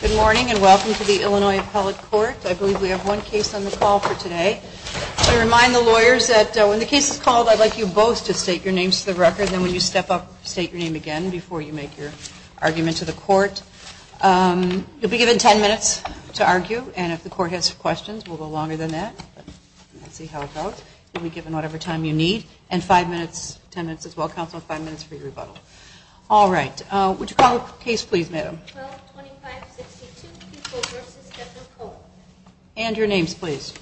Good morning, and welcome to the Illinois Appellate Court. I believe we have one case on the call for today. I remind the lawyers that when the case is called, I'd like you both to state your names to the record, and then when you step up, state your name again before you make your argument to the court. You'll be given ten minutes to argue, and if the court has questions, we'll go longer than that. We'll see how it goes. You'll be given whatever time you need, and five minutes, ten minutes as well, counsel, five minutes for your rebuttal. All right, would you call the case, please, madam? And your names, please.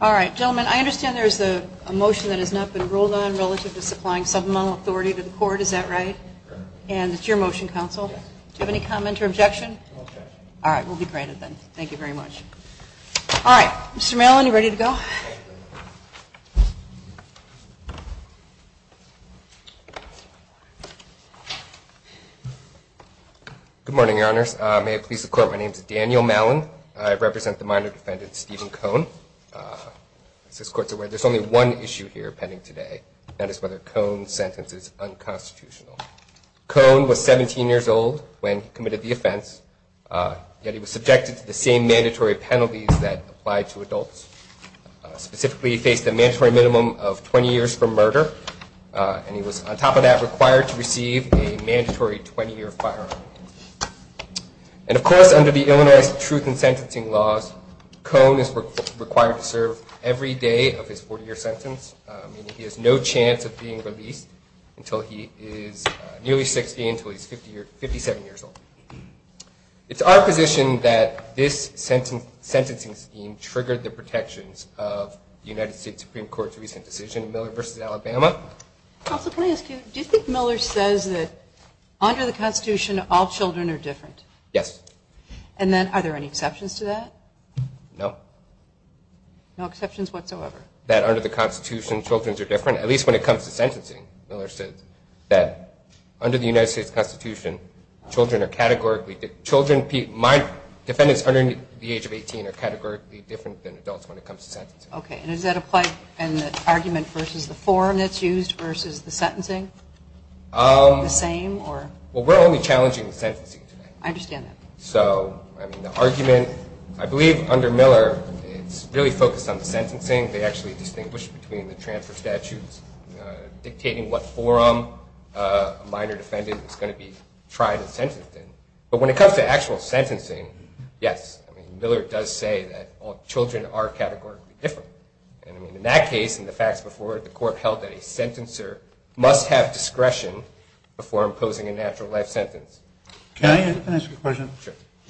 All right, gentlemen, I understand there's a motion that has not been ruled on relative to supplying supplemental authority to the court, is that right? And it's your motion, counsel. Do you have any comment or objection? All right, we'll be granted then. Thank you very much. All right, Mr. Mallon, you ready to go? Good morning, your honors. May it please the court, my name is Daniel Mallon. I represent the minor defendant, Stephen Cone. There's only one issue here pending today, and that is whether Cone's sentence is unconstitutional. Cone was 17 years old when he committed the offense, yet he was subjected to the same mandatory penalties that apply to adults. Specifically, he faced a mandatory minimum of 20 years for murder, and he was, on top of that, required to receive a mandatory 20-year firearm. And, of course, under the Illinois Truth in Sentencing laws, Cone is required to serve every day of his 40-year sentence. He has no chance of being released until he is nearly 60, until he's 57 years old. It's our position that this sentencing scheme triggered the protections of the United States Supreme Court's recent decision, Miller v. Alabama. Counsel, can I ask you, do you think Miller says that under the Constitution, all children are different? Yes. And then, are there any exceptions to that? No. No exceptions whatsoever? That under the Constitution, children are different, at least when it comes to sentencing. Miller said that under the United States Constitution, children are categorically different. My defendants under the age of 18 are categorically different than adults when it comes to sentencing. Okay. And does that apply in the argument versus the forum that's used versus the sentencing? The same, or? Well, we're only challenging the sentencing today. I understand that. So, I mean, the argument, I believe under Miller, it's really focused on the sentencing. They actually distinguish between the transfer statutes dictating what forum a minor defendant is going to be tried and sentenced in. But when it comes to actual sentencing, yes, I mean, Miller does say that all children are categorically different. And, I mean, in that case and the facts before it, the court held that a sentencer must have discretion before imposing a natural life sentence. Can I ask a question?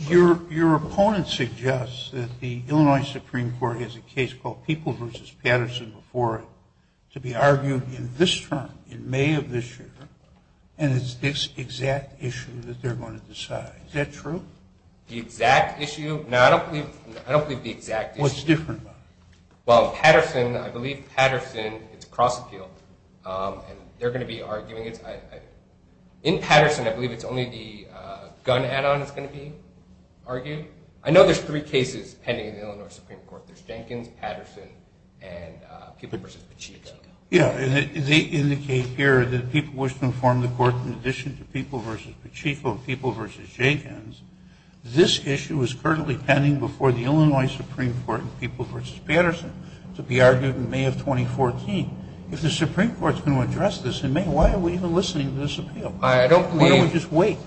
Sure. Your opponent suggests that the Illinois Supreme Court has a case called Peoples v. Patterson before it to be argued in this term, in May of this year, and it's this exact issue that they're going to decide. Is that true? The exact issue? No, I don't believe the exact issue. What's different about it? Well, Patterson, I believe Patterson is cross-appealed, and they're going to be arguing it. In Patterson, I believe it's only the gun add-on that's going to be argued. I know there's three cases pending in the Illinois Supreme Court. There's Jenkins, Patterson, and Peoples v. Pacheco. Yeah, and they indicate here that the people wish to inform the court in addition to Peoples v. Pacheco and Peoples v. Jenkins, this issue is currently pending before the Illinois Supreme Court in Peoples v. Patterson to be argued in May of 2014. If the Supreme Court is going to address this in May, why are we even listening to this appeal? Why don't we just wait?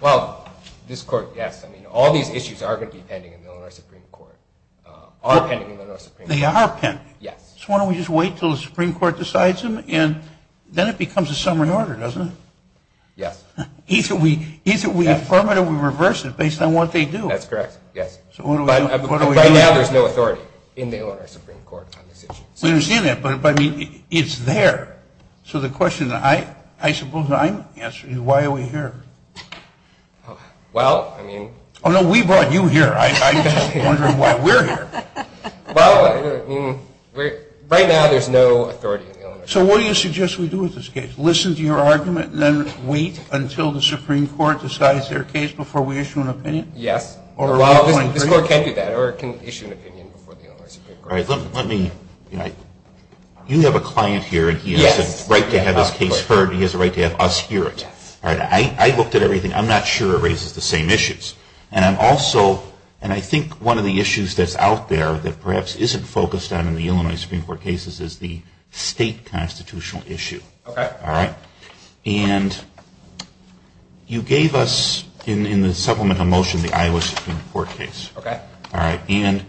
Well, this court, yes. I mean, all these issues are going to be pending in the Illinois Supreme Court, are pending in the Illinois Supreme Court. They are pending. Yes. So why don't we just wait until the Supreme Court decides them, and then it becomes a summary order, doesn't it? Yes. Either we affirm it or we reverse it based on what they do. That's correct, yes. So what do we do? Right now, there's no authority in the Illinois Supreme Court on this issue. We understand that, but, I mean, it's there. So the question that I suppose I'm answering is why are we here? Well, I mean – Oh, no, we brought you here. I'm just wondering why we're here. Well, I mean, right now there's no authority in the Illinois Supreme Court. So what do you suggest we do with this case? Listen to your argument and then wait until the Supreme Court decides their case before we issue an opinion? Yes. Or are we going for you? Well, this court can do that, or it can issue an opinion before the Illinois Supreme Court. All right. Let me – you have a client here, and he has a right to have his case heard, and he has a right to have us hear it. Yes. All right. I looked at everything. I'm not sure it raises the same issues. And I'm also – and I think one of the issues that's out there that perhaps isn't focused on in the Illinois Supreme Court cases is the state constitutional issue. Okay. All right. And you gave us in the supplemental motion the Iowa Supreme Court case. Okay. All right. And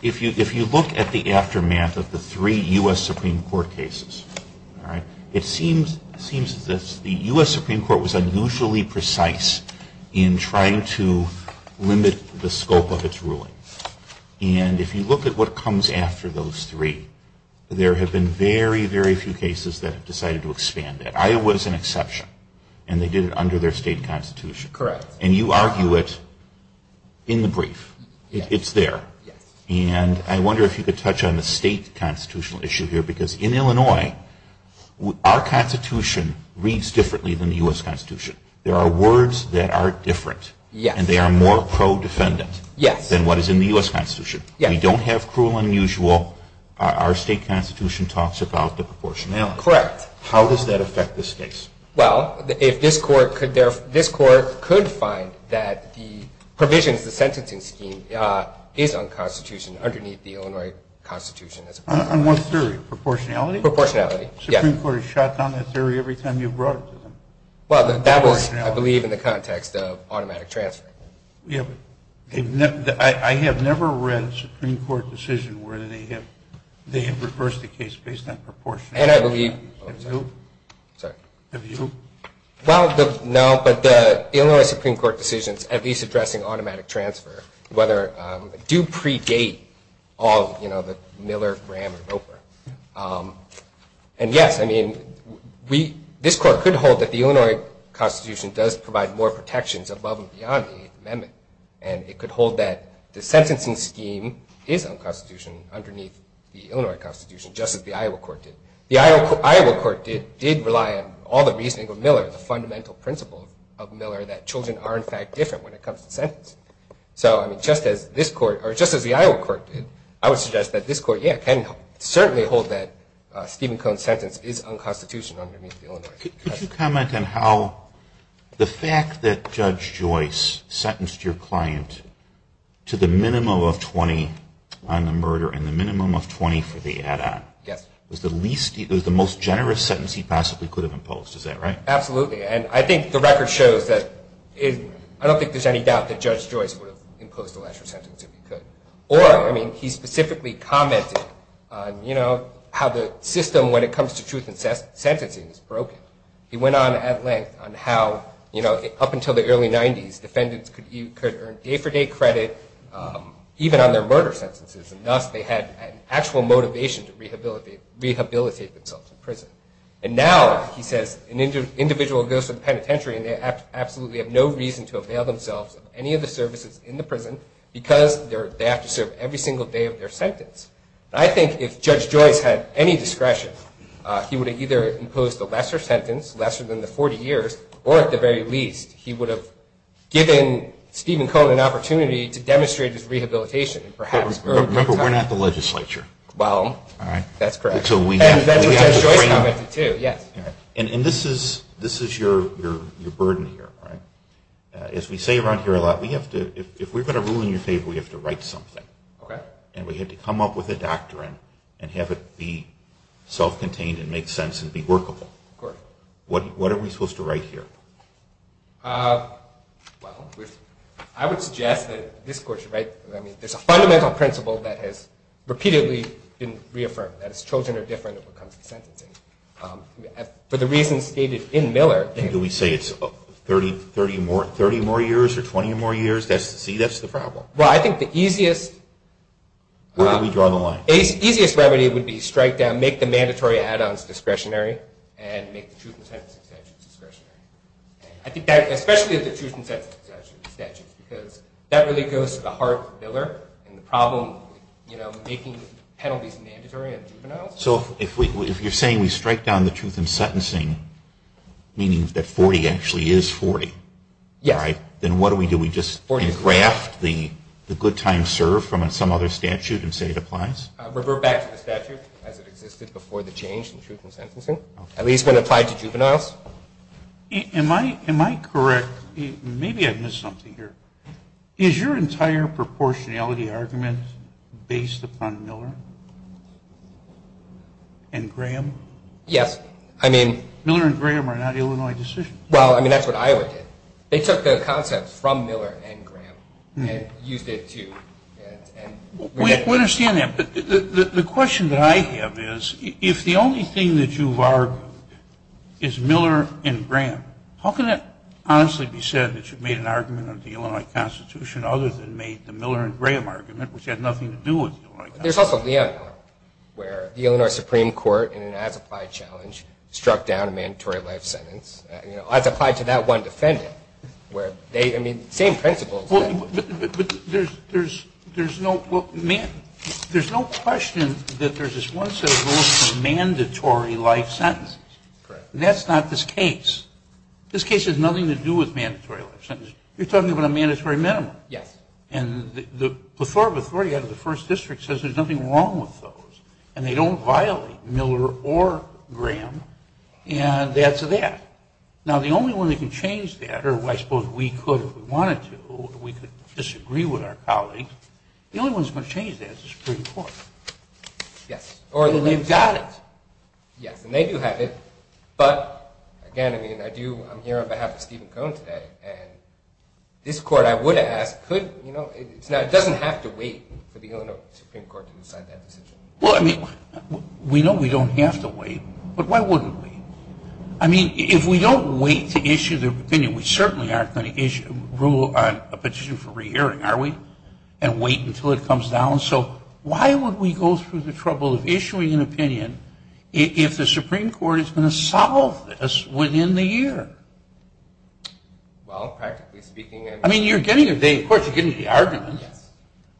if you look at the aftermath of the three U.S. Supreme Court cases, all right, it seems that the U.S. Supreme Court was unusually precise in trying to limit the scope of its ruling. And if you look at what comes after those three, there have been very, very few cases that have decided to expand that. Iowa is an exception, and they did it under their state constitution. Correct. And you argue it in the brief. It's there. Yes. And I wonder if you could touch on the state constitutional issue here, because in Illinois, our constitution reads differently than the U.S. constitution. There are words that are different. Yes. And they are more pro-defendant. Yes. Than what is in the U.S. constitution. Yes. We don't have cruel and unusual. Our state constitution talks about the proportionality. Correct. How does that affect this case? Well, if this court could find that the provisions, the sentencing scheme, is unconstitutional underneath the Illinois constitution. On what theory? Proportionality? Proportionality, yes. The Supreme Court has shot down that theory every time you've brought it to them. Well, that was, I believe, in the context of automatic transfer. Yes, but I have never read a Supreme Court decision where they have reversed the case based on proportionality. And I believe – Have you? Sorry? Have you? Well, no, but the Illinois Supreme Court decisions, at least addressing automatic transfer, do predate all the Miller, Graham, and Roper. And yes, I mean, this court could hold that the Illinois constitution does provide more protections above and beyond the amendment. And it could hold that the sentencing scheme is unconstitutional underneath the Illinois constitution, just as the Iowa court did. The Iowa court did rely on all the reasoning of Miller, the fundamental principle of Miller, that children are, in fact, different when it comes to sentence. So, I mean, just as this court – or just as the Iowa court did, I would suggest that this court, yeah, can certainly hold that Stephen Cohn's sentence is unconstitutional underneath the Illinois constitution. Could you comment on how the fact that Judge Joyce sentenced your client to the minimum of 20 on the murder and the minimum of 20 for the add-on was the least – was the most generous sentence he possibly could have imposed. Is that right? Absolutely. And I think the record shows that – I don't think there's any doubt that Judge Joyce would have imposed a lesser sentence if he could. Or, I mean, he specifically commented on, you know, how the system when it comes to truth in sentencing is broken. He went on at length on how, you know, up until the early 90s, defendants could earn day-for-day credit even on their murder sentences, and thus they had an actual motivation to rehabilitate themselves in prison. And now, he says, an individual goes to the penitentiary, and they absolutely have no reason to avail themselves of any of the services in the prison because they have to serve every single day of their sentence. And I think if Judge Joyce had any discretion, he would have either imposed a lesser sentence, lesser than the 40 years, or at the very least, he would have given Stephen Cohn an opportunity to demonstrate his rehabilitation. Remember, we're not the legislature. Well, that's correct. And Judge Joyce commented, too, yes. And this is your burden here, right? As we say around here a lot, if we're going to rule in your favor, we have to write something. Okay. And we have to come up with a doctrine and have it be self-contained and make sense and be workable. Of course. What are we supposed to write here? Well, I would suggest that this court should write, I mean, there's a fundamental principle that has repeatedly been reaffirmed. That is, children are different when it comes to sentencing. For the reasons stated in Miller. And do we say it's 30 more years or 20 more years? See, that's the problem. Well, I think the easiest. Where do we draw the line? The easiest remedy would be strike down, make the mandatory add-ons discretionary, and make the truth and sentencing statutes discretionary. Especially the truth and sentencing statutes, because that really goes to the heart of Miller and the problem of making penalties mandatory on juveniles. So if you're saying we strike down the truth in sentencing, meaning that 40 actually is 40, right? Yes. Then what do we do? We just engraft the good times served from some other statute and say it applies? Revert back to the statute as it existed before the change in truth in sentencing. At least when applied to juveniles. Am I correct? Maybe I missed something here. Is your entire proportionality argument based upon Miller and Graham? Yes. I mean. Miller and Graham are not Illinois decisions. Well, I mean, that's what Iowa did. They took the concept from Miller and Graham and used it to. We understand that. The question that I have is, if the only thing that you've argued is Miller and Graham, how can it honestly be said that you've made an argument of the Illinois Constitution other than made the Miller and Graham argument, which had nothing to do with the Illinois Constitution? There's also Leonel, where the Illinois Supreme Court, in an as-applied challenge, struck down a mandatory life sentence. As applied to that one defendant, where they, I mean, same principles. But there's no question that there's this one set of rules for mandatory life sentences. That's not this case. This case has nothing to do with mandatory life sentences. You're talking about a mandatory minimum. Yes. And the plethora of authority out of the First District says there's nothing wrong with those, and they don't violate Miller or Graham, and that's that. Now, the only one that can change that, or I suppose we could if we wanted to, or we could disagree with our colleagues, the only one that's going to change that is the Supreme Court. Yes. Or they've got it. Yes, and they do have it. But, again, I mean, I'm here on behalf of Stephen Cohen today, and this Court, I would ask, doesn't have to wait for the Illinois Supreme Court to decide that decision. Well, I mean, we know we don't have to wait, but why wouldn't we? I mean, if we don't wait to issue the opinion, we certainly aren't going to issue a petition for re-hearing, are we, and wait until it comes down. So why would we go through the trouble of issuing an opinion if the Supreme Court is going to solve this within the year? Well, practically speaking, and – I mean, you're getting a day, of course, you're getting the argument. Yes.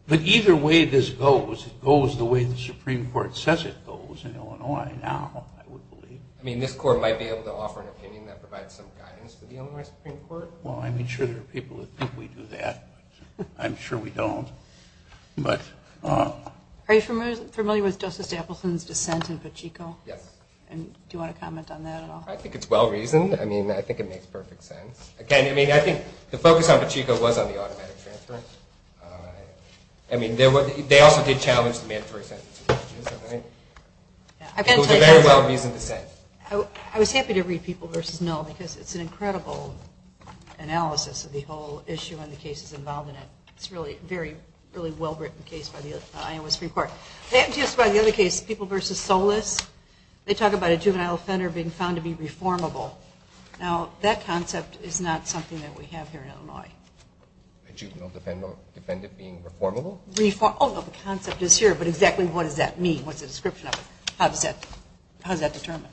But either way this goes, it goes the way the Supreme Court says it goes in Illinois now, I would believe. I mean, this Court might be able to offer an opinion that provides some guidance for the Illinois Supreme Court. Well, I'm sure there are people who think we do that. I'm sure we don't. Are you familiar with Justice Appleton's dissent in Pachinko? Yes. And do you want to comment on that at all? I think it's well-reasoned. I mean, I think it makes perfect sense. Again, I mean, I think the focus on Pachinko was on the automatic transfer. I mean, they also did challenge the mandatory sentence. It was a very well-reasoned dissent. I was happy to read People v. Null because it's an incredible analysis of the whole issue and the cases involved in it. It's a really well-written case by the Iowa Supreme Court. And just by the other case, People v. Solis, they talk about a juvenile offender being found to be reformable. Now, that concept is not something that we have here in Illinois. A juvenile defendant being reformable? Oh, no, the concept is here, but exactly what does that mean? What's the description of it? How is that determined?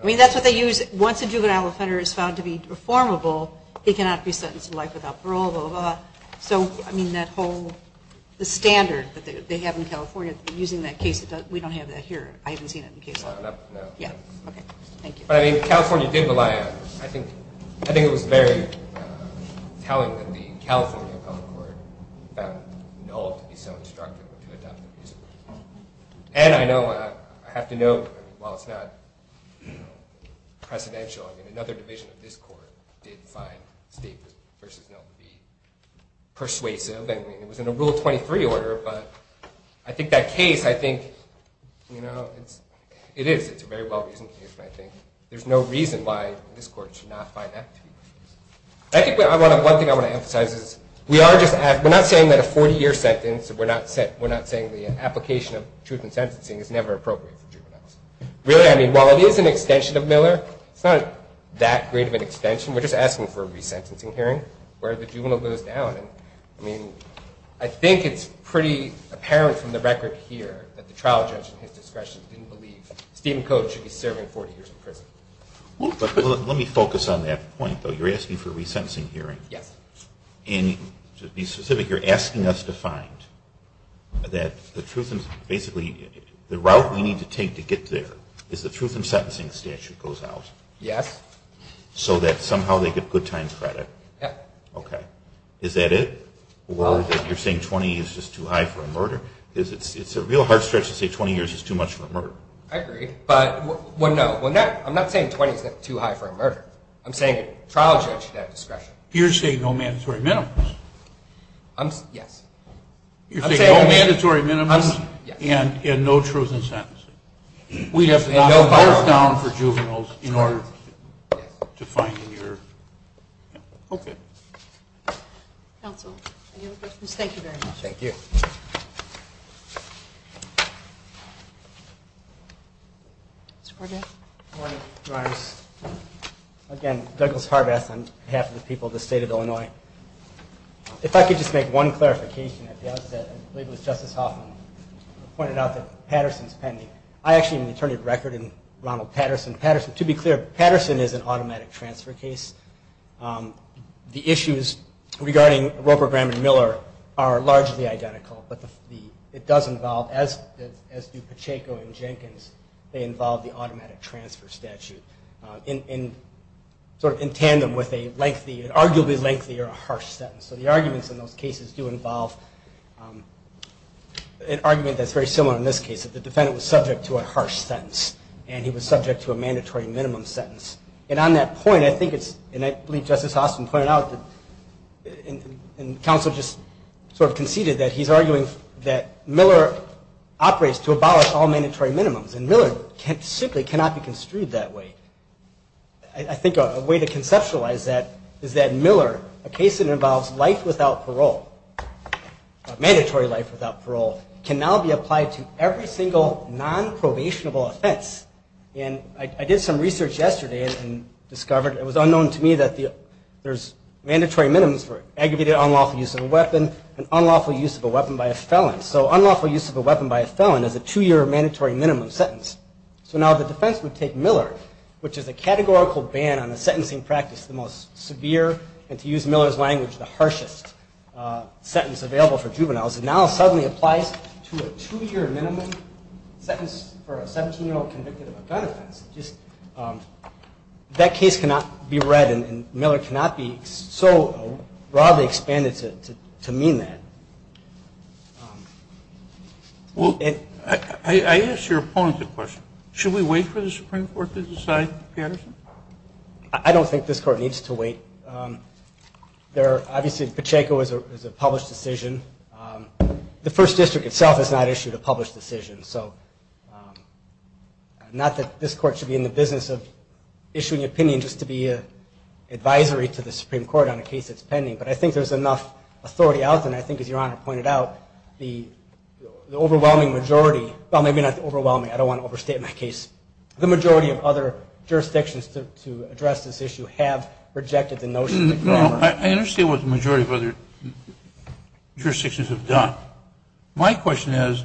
I mean, that's what they use. Once a juvenile offender is found to be reformable, he cannot be sentenced to life without parole, blah, blah, blah. So, I mean, that whole standard that they have in California, using that case, we don't have that here. I haven't seen it in case law. No. Yeah. Okay. Thank you. But, I mean, California did rely on it. I think it was very telling that the California public court found Knoll to be so instructive to adopt the reason. And I know, I have to note, while it's not precedential, I mean, another division of this court did find State v. Knoll to be persuasive. I mean, it was in a Rule 23 order, but I think that case, I think, you know, it is a very well-reasoned case. I think there's no reason why this court should not find that to be persuasive. I think one thing I want to emphasize is we are just asking, we're not saying that a 40-year sentence, we're not saying the application of truth in sentencing is never appropriate for juveniles. Really, I mean, while it is an extension of Miller, it's not that great of an extension. We're just asking for a resentencing hearing where the juvenile goes down. I mean, I think it's pretty apparent from the record here that the trial judge, in his discretion, didn't believe Stephen Coates should be serving 40 years in prison. Let me focus on that point, though. You're asking for a resentencing hearing. Yes. And to be specific, you're asking us to find that the truth in, basically, the route we need to take to get there is the truth in sentencing statute goes out. Yes. So that somehow they get good time credit. Yes. Okay. Is that it? Well. Or that you're saying 20 is just too high for a murder? It's a real hard stretch to say 20 years is too much for a murder. I agree. But, well, no. I'm not saying 20 is too high for a murder. I'm saying a trial judge should have discretion. You're saying no mandatory minimums. Yes. I'm saying no mandatory minimums and no truth in sentencing. We have to knock the bars down for juveniles in order to find a year. Okay. Counsel, any other questions? Thank you very much. Thank you. Mr. Corbett. Good morning, Your Honors. Again, Douglas Harbath on behalf of the people of the State of Illinois. If I could just make one clarification at the outset, I believe it was Justice Hoffman pointed out that Patterson's pending. I actually am an attorney of record in Ronald Patterson. To be clear, Patterson is an automatic transfer case. The issues regarding Roper, Graham, and Miller are largely identical, but it does involve, as do Pacheco and Jenkins, they involve the automatic transfer statute in tandem with an arguably lengthy or a harsh sentence. So the arguments in those cases do involve an argument that's very similar in this case, that the defendant was subject to a harsh sentence and he was subject to a mandatory minimum sentence. And on that point, I think it's, and I believe Justice Hoffman pointed out, and counsel just sort of conceded that he's arguing that Miller operates to abolish all mandatory minimums, and Miller simply cannot be construed that way. I think a way to conceptualize that is that Miller, a case that involves life without parole, a mandatory life without parole, can now be applied to every single nonprobationable offense. And I did some research yesterday and discovered it was unknown to me that there's mandatory minimums for aggravated unlawful use of a weapon and unlawful use of a weapon by a felon. So unlawful use of a weapon by a felon is a two-year mandatory minimum sentence. So now the defense would take Miller, which is a categorical ban on a sentencing practice the most severe, and to use Miller's language, the harshest sentence available for juveniles, now suddenly applies to a two-year minimum sentence for a 17-year-old convicted of a gun offense. That case cannot be read, and Miller cannot be so broadly expanded to mean that. Well, I ask your opponent a question. Should we wait for the Supreme Court to decide, Patterson? I don't think this Court needs to wait. Obviously, Pacheco is a published decision. The First District itself has not issued a published decision, so not that this Court should be in the business of issuing an opinion just to be an advisory to the Supreme Court on a case that's pending, but I think there's enough authority out there, and I think, as Your Honor pointed out, the overwhelming majority – well, maybe not overwhelming, I don't want to overstate my case. The majority of other jurisdictions to address this issue have rejected the notion that Miller – No, I understand what the majority of other jurisdictions have done. My question is,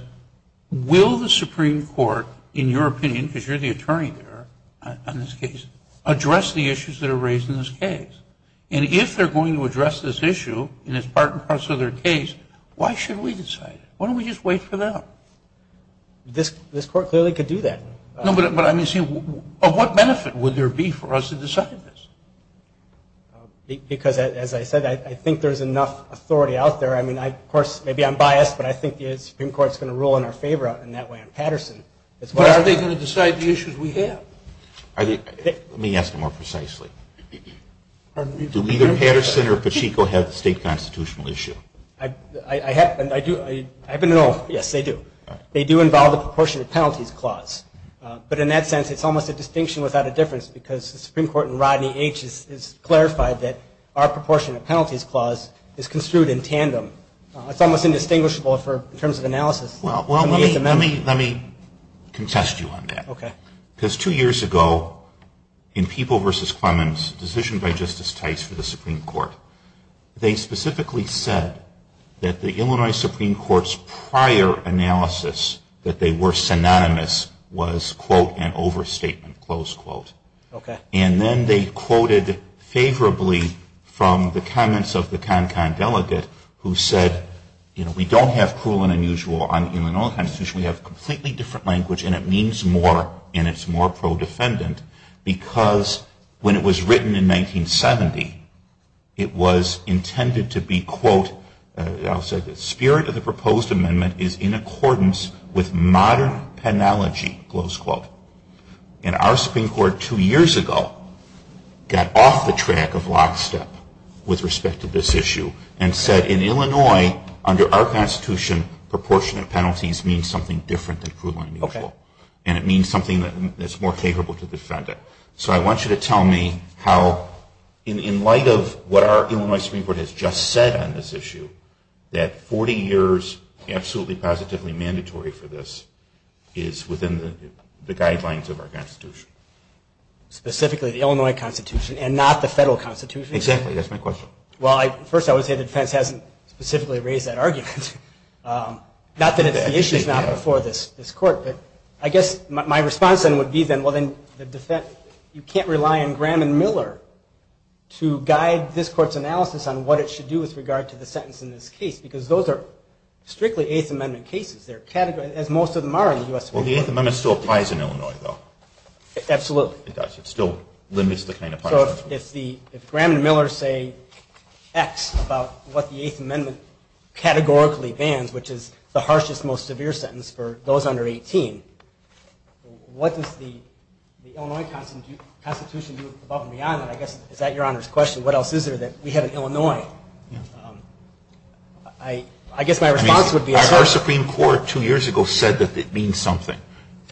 will the Supreme Court, in your opinion, because you're the attorney there on this case, address the issues that are raised in this case? And if they're going to address this issue, and it's part and parcel of their case, why should we decide it? Why don't we just wait for them? This Court clearly could do that. No, but I mean, see, of what benefit would there be for us to decide this? Because, as I said, I think there's enough authority out there. I mean, of course, maybe I'm biased, but I think the Supreme Court is going to rule in our favor in that way on Patterson. But are they going to decide the issues we have? Let me ask it more precisely. Do either Patterson or Pacheco have the state constitutional issue? I do. Yes, they do. They do involve the proportionate penalties clause. But in that sense, it's almost a distinction without a difference, because the Supreme Court in Rodney H. has clarified that our proportionate penalties clause is construed in tandem. It's almost indistinguishable in terms of analysis. Well, let me contest you on that. Because two years ago, in People v. Clemens, a decision by Justice Tice for the Supreme Court, they specifically said that the Illinois Supreme Court's prior analysis, that they were synonymous, was, quote, an overstatement, close quote. Okay. And then they quoted favorably from the comments of the KonKon delegate, who said, you know, we don't have cruel and unusual on the Illinois Constitution. We have completely different language, and it means more, and it's more pro-defendant, because when it was written in 1970, it was intended to be, quote, I'll say the spirit of the proposed amendment is in accordance with modern penology, close quote. And our Supreme Court, two years ago, got off the track of lockstep with respect to this issue, and said in Illinois, under our Constitution, proportionate penalties means something different than cruel and unusual. Okay. And it means something that's more capable to defend it. So I want you to tell me how, in light of what our Illinois Supreme Court has just said on this issue, that 40 years, absolutely positively mandatory for this, is within the guidelines of our Constitution. Specifically the Illinois Constitution, and not the federal Constitution? Exactly. That's my question. Well, first I would say the defense hasn't specifically raised that argument. Not that it's the issues not before this court, but I guess my response then would be, well, then you can't rely on Graham and Miller to guide this court's analysis on what it should do with regard to the sentence in this case, because those are strictly Eighth Amendment cases. They're categorized, as most of them are in the U.S. Supreme Court. Well, the Eighth Amendment still applies in Illinois, though. Absolutely. It does. It still limits the kind of punishment. So if Graham and Miller say X about what the Eighth Amendment categorically bans, which is the harshest, most severe sentence for those under 18, what does the Illinois Constitution do above and beyond that? I guess, is that Your Honor's question? What else is there that we have in Illinois? I guess my response would be, Our Supreme Court two years ago said that it means something.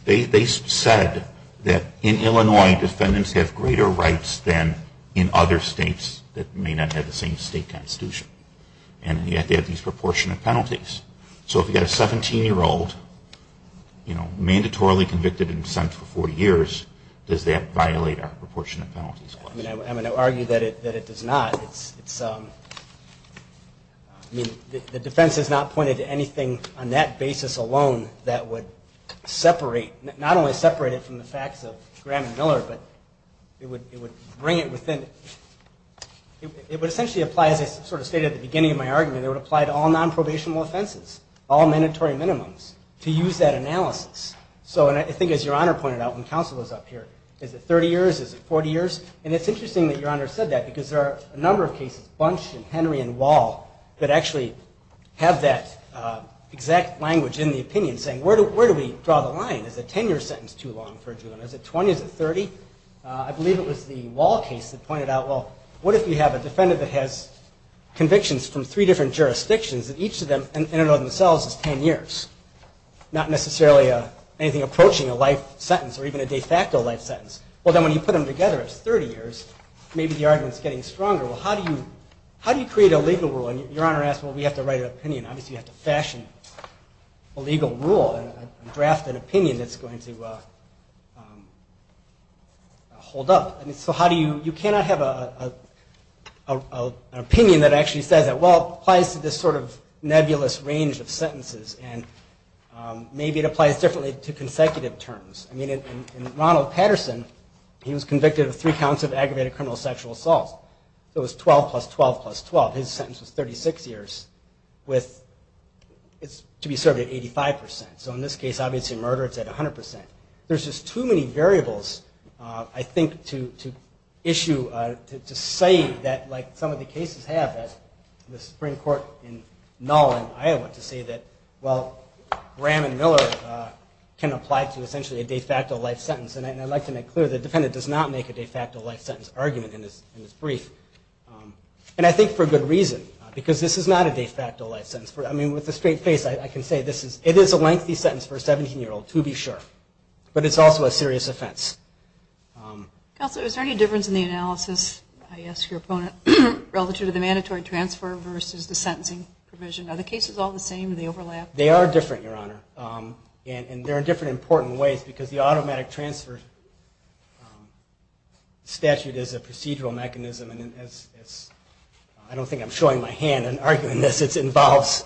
They said that in Illinois, defendants have greater rights than in other states that may not have the same state constitution. And yet they have these proportionate penalties. So if you've got a 17-year-old, you know, mandatorily convicted and sentenced for 40 years, does that violate our proportionate penalties clause? I'm going to argue that it does not. It's, I mean, the defense has not pointed to anything on that basis alone that would separate, not only separate it from the facts of Graham and Miller, but it would bring it within, it would essentially apply, as I sort of stated at the beginning of my argument, it would apply to all nonprobational offenses, all mandatory minimums, to use that analysis. So I think, as Your Honor pointed out when counsel was up here, is it 30 years, is it 40 years? And it's interesting that Your Honor said that, because there are a number of cases, Bunch and Henry and Wall, that actually have that exact language in the opinion, saying where do we draw the line? Is a 10-year sentence too long for a juvenile? Is it 20? Is it 30? I believe it was the Wall case that pointed out, well, what if we have a defendant that has convictions from three different jurisdictions and each of them in and of themselves is 10 years, not necessarily anything approaching a life sentence or even a de facto life sentence. Well, then when you put them together, it's 30 years, maybe the argument's getting stronger. Well, how do you create a legal rule? And Your Honor asked, well, we have to write an opinion. Obviously, you have to fashion a legal rule and draft an opinion that's going to hold up. So how do you, you cannot have an opinion that actually says that, well, it applies to this sort of nebulous range of sentences, and maybe it applies differently to consecutive terms. I mean, in Ronald Patterson, he was convicted of three counts of aggravated criminal sexual assault. So it was 12 plus 12 plus 12. His sentence was 36 years, to be served at 85%. So in this case, obviously murder, it's at 100%. There's just too many variables, I think, to issue, to say that like some of the cases have at the Supreme Court in Null in Iowa to say that, well, Graham and Miller can apply to essentially a de facto life sentence. And I'd like to make clear, the defendant does not make a de facto life sentence argument in this brief. And I think for good reason, because this is not a de facto life sentence. I mean, with a straight face, I can say this is, it is a lengthy sentence for a 17-year-old, to be sure. But it's also a serious offense. Counselor, is there any difference in the analysis, I ask your opponent, relative to the mandatory transfer versus the sentencing provision? Are the cases all the same? Do they overlap? They are different, Your Honor. And they're in different important ways, because the automatic transfer statute is a procedural mechanism, and I don't think I'm showing my hand in arguing this. It involves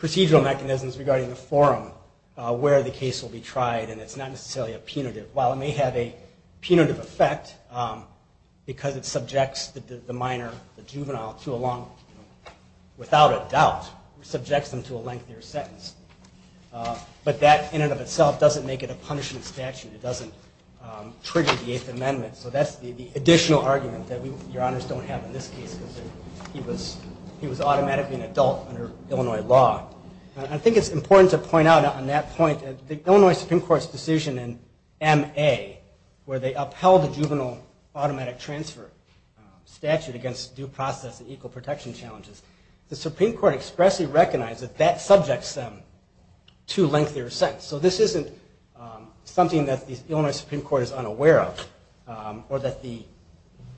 procedural mechanisms regarding the forum where the case will be tried, and it's not necessarily a punitive. While it may have a punitive effect, because it subjects the minor, the juvenile, to a long, without a doubt, it subjects them to a lengthier sentence. But that in and of itself doesn't make it a punishment statute. It doesn't trigger the Eighth Amendment. So that's the additional argument that Your Honors don't have in this case, because he was automatically an adult under Illinois law. I think it's important to point out on that point, the Illinois Supreme Court's decision in M.A., where they upheld the juvenile automatic transfer statute against due process and equal protection challenges, the Supreme Court expressly recognized that that subjects them to a lengthier sentence. So this isn't something that the Illinois Supreme Court is unaware of, or that the,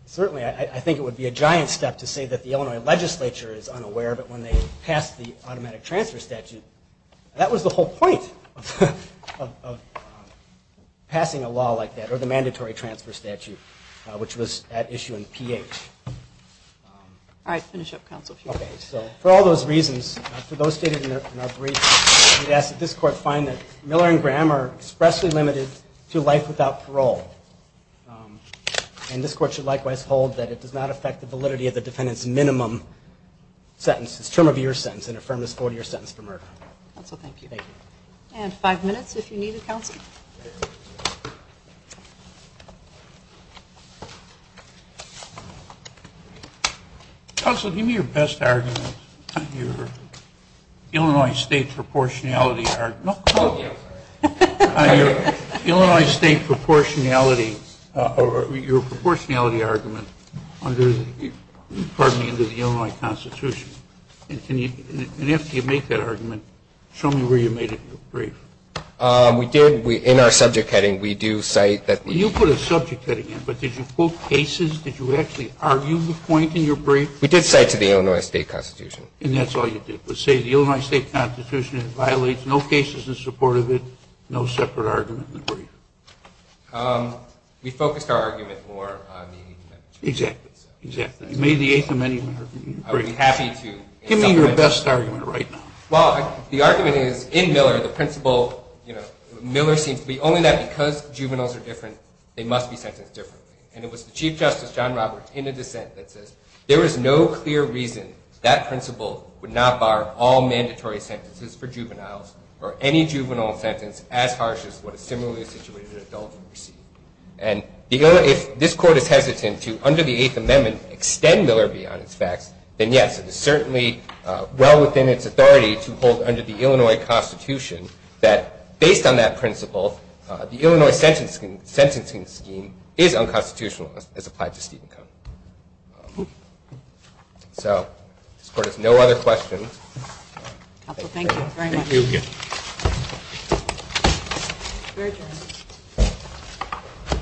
certainly I think it would be a giant step to say that the Illinois legislature is unaware of it when they passed the automatic transfer statute. And that was the whole point of passing a law like that, or the mandatory transfer statute, which was at issue in P.H. All right, finish up, counsel. Okay, so for all those reasons, for those stated in our brief, we ask that this Court find that Miller and Graham are expressly limited to life without parole. And this Court should likewise hold that it does not affect the validity of the defendant's minimum sentence, his term of year sentence, and affirm his four-year sentence for murder. Counsel, thank you. Thank you. And five minutes if you need it, counsel. Counsel, give me your best argument, your Illinois State proportionality argument. Oh, yeah. Your Illinois State proportionality, or your proportionality argument under the, pardon me, under the Illinois Constitution. And after you make that argument, show me where you made it in your brief. We did. In our subject heading, we do cite that. You put a subject heading in, but did you quote cases? Did you actually argue the point in your brief? We did cite to the Illinois State Constitution. And that's all you did, but say the Illinois State Constitution violates no cases in support of it, no separate argument in the brief. We focused our argument more on the. Exactly, exactly. You made the eighth amendment in your brief. I would be happy to. Give me your best argument right now. Well, the argument is, in Miller, the principle, you know, Miller seems to be only that because juveniles are different, they must be sentenced differently. And it was the Chief Justice, John Roberts, in a dissent that says, there is no clear reason that principle would not bar all mandatory sentences for juveniles or any juvenile sentence as harsh as what a similarly situated adult would receive. And if this Court is hesitant to, under the eighth amendment, extend Miller beyond its facts, then, yes, it is certainly well within its authority to hold under the Illinois Constitution that based on that principle, the Illinois sentencing scheme is unconstitutional as applied to Stephen Cone. So this Court has no other questions. Counsel, thank you very much. Thank you.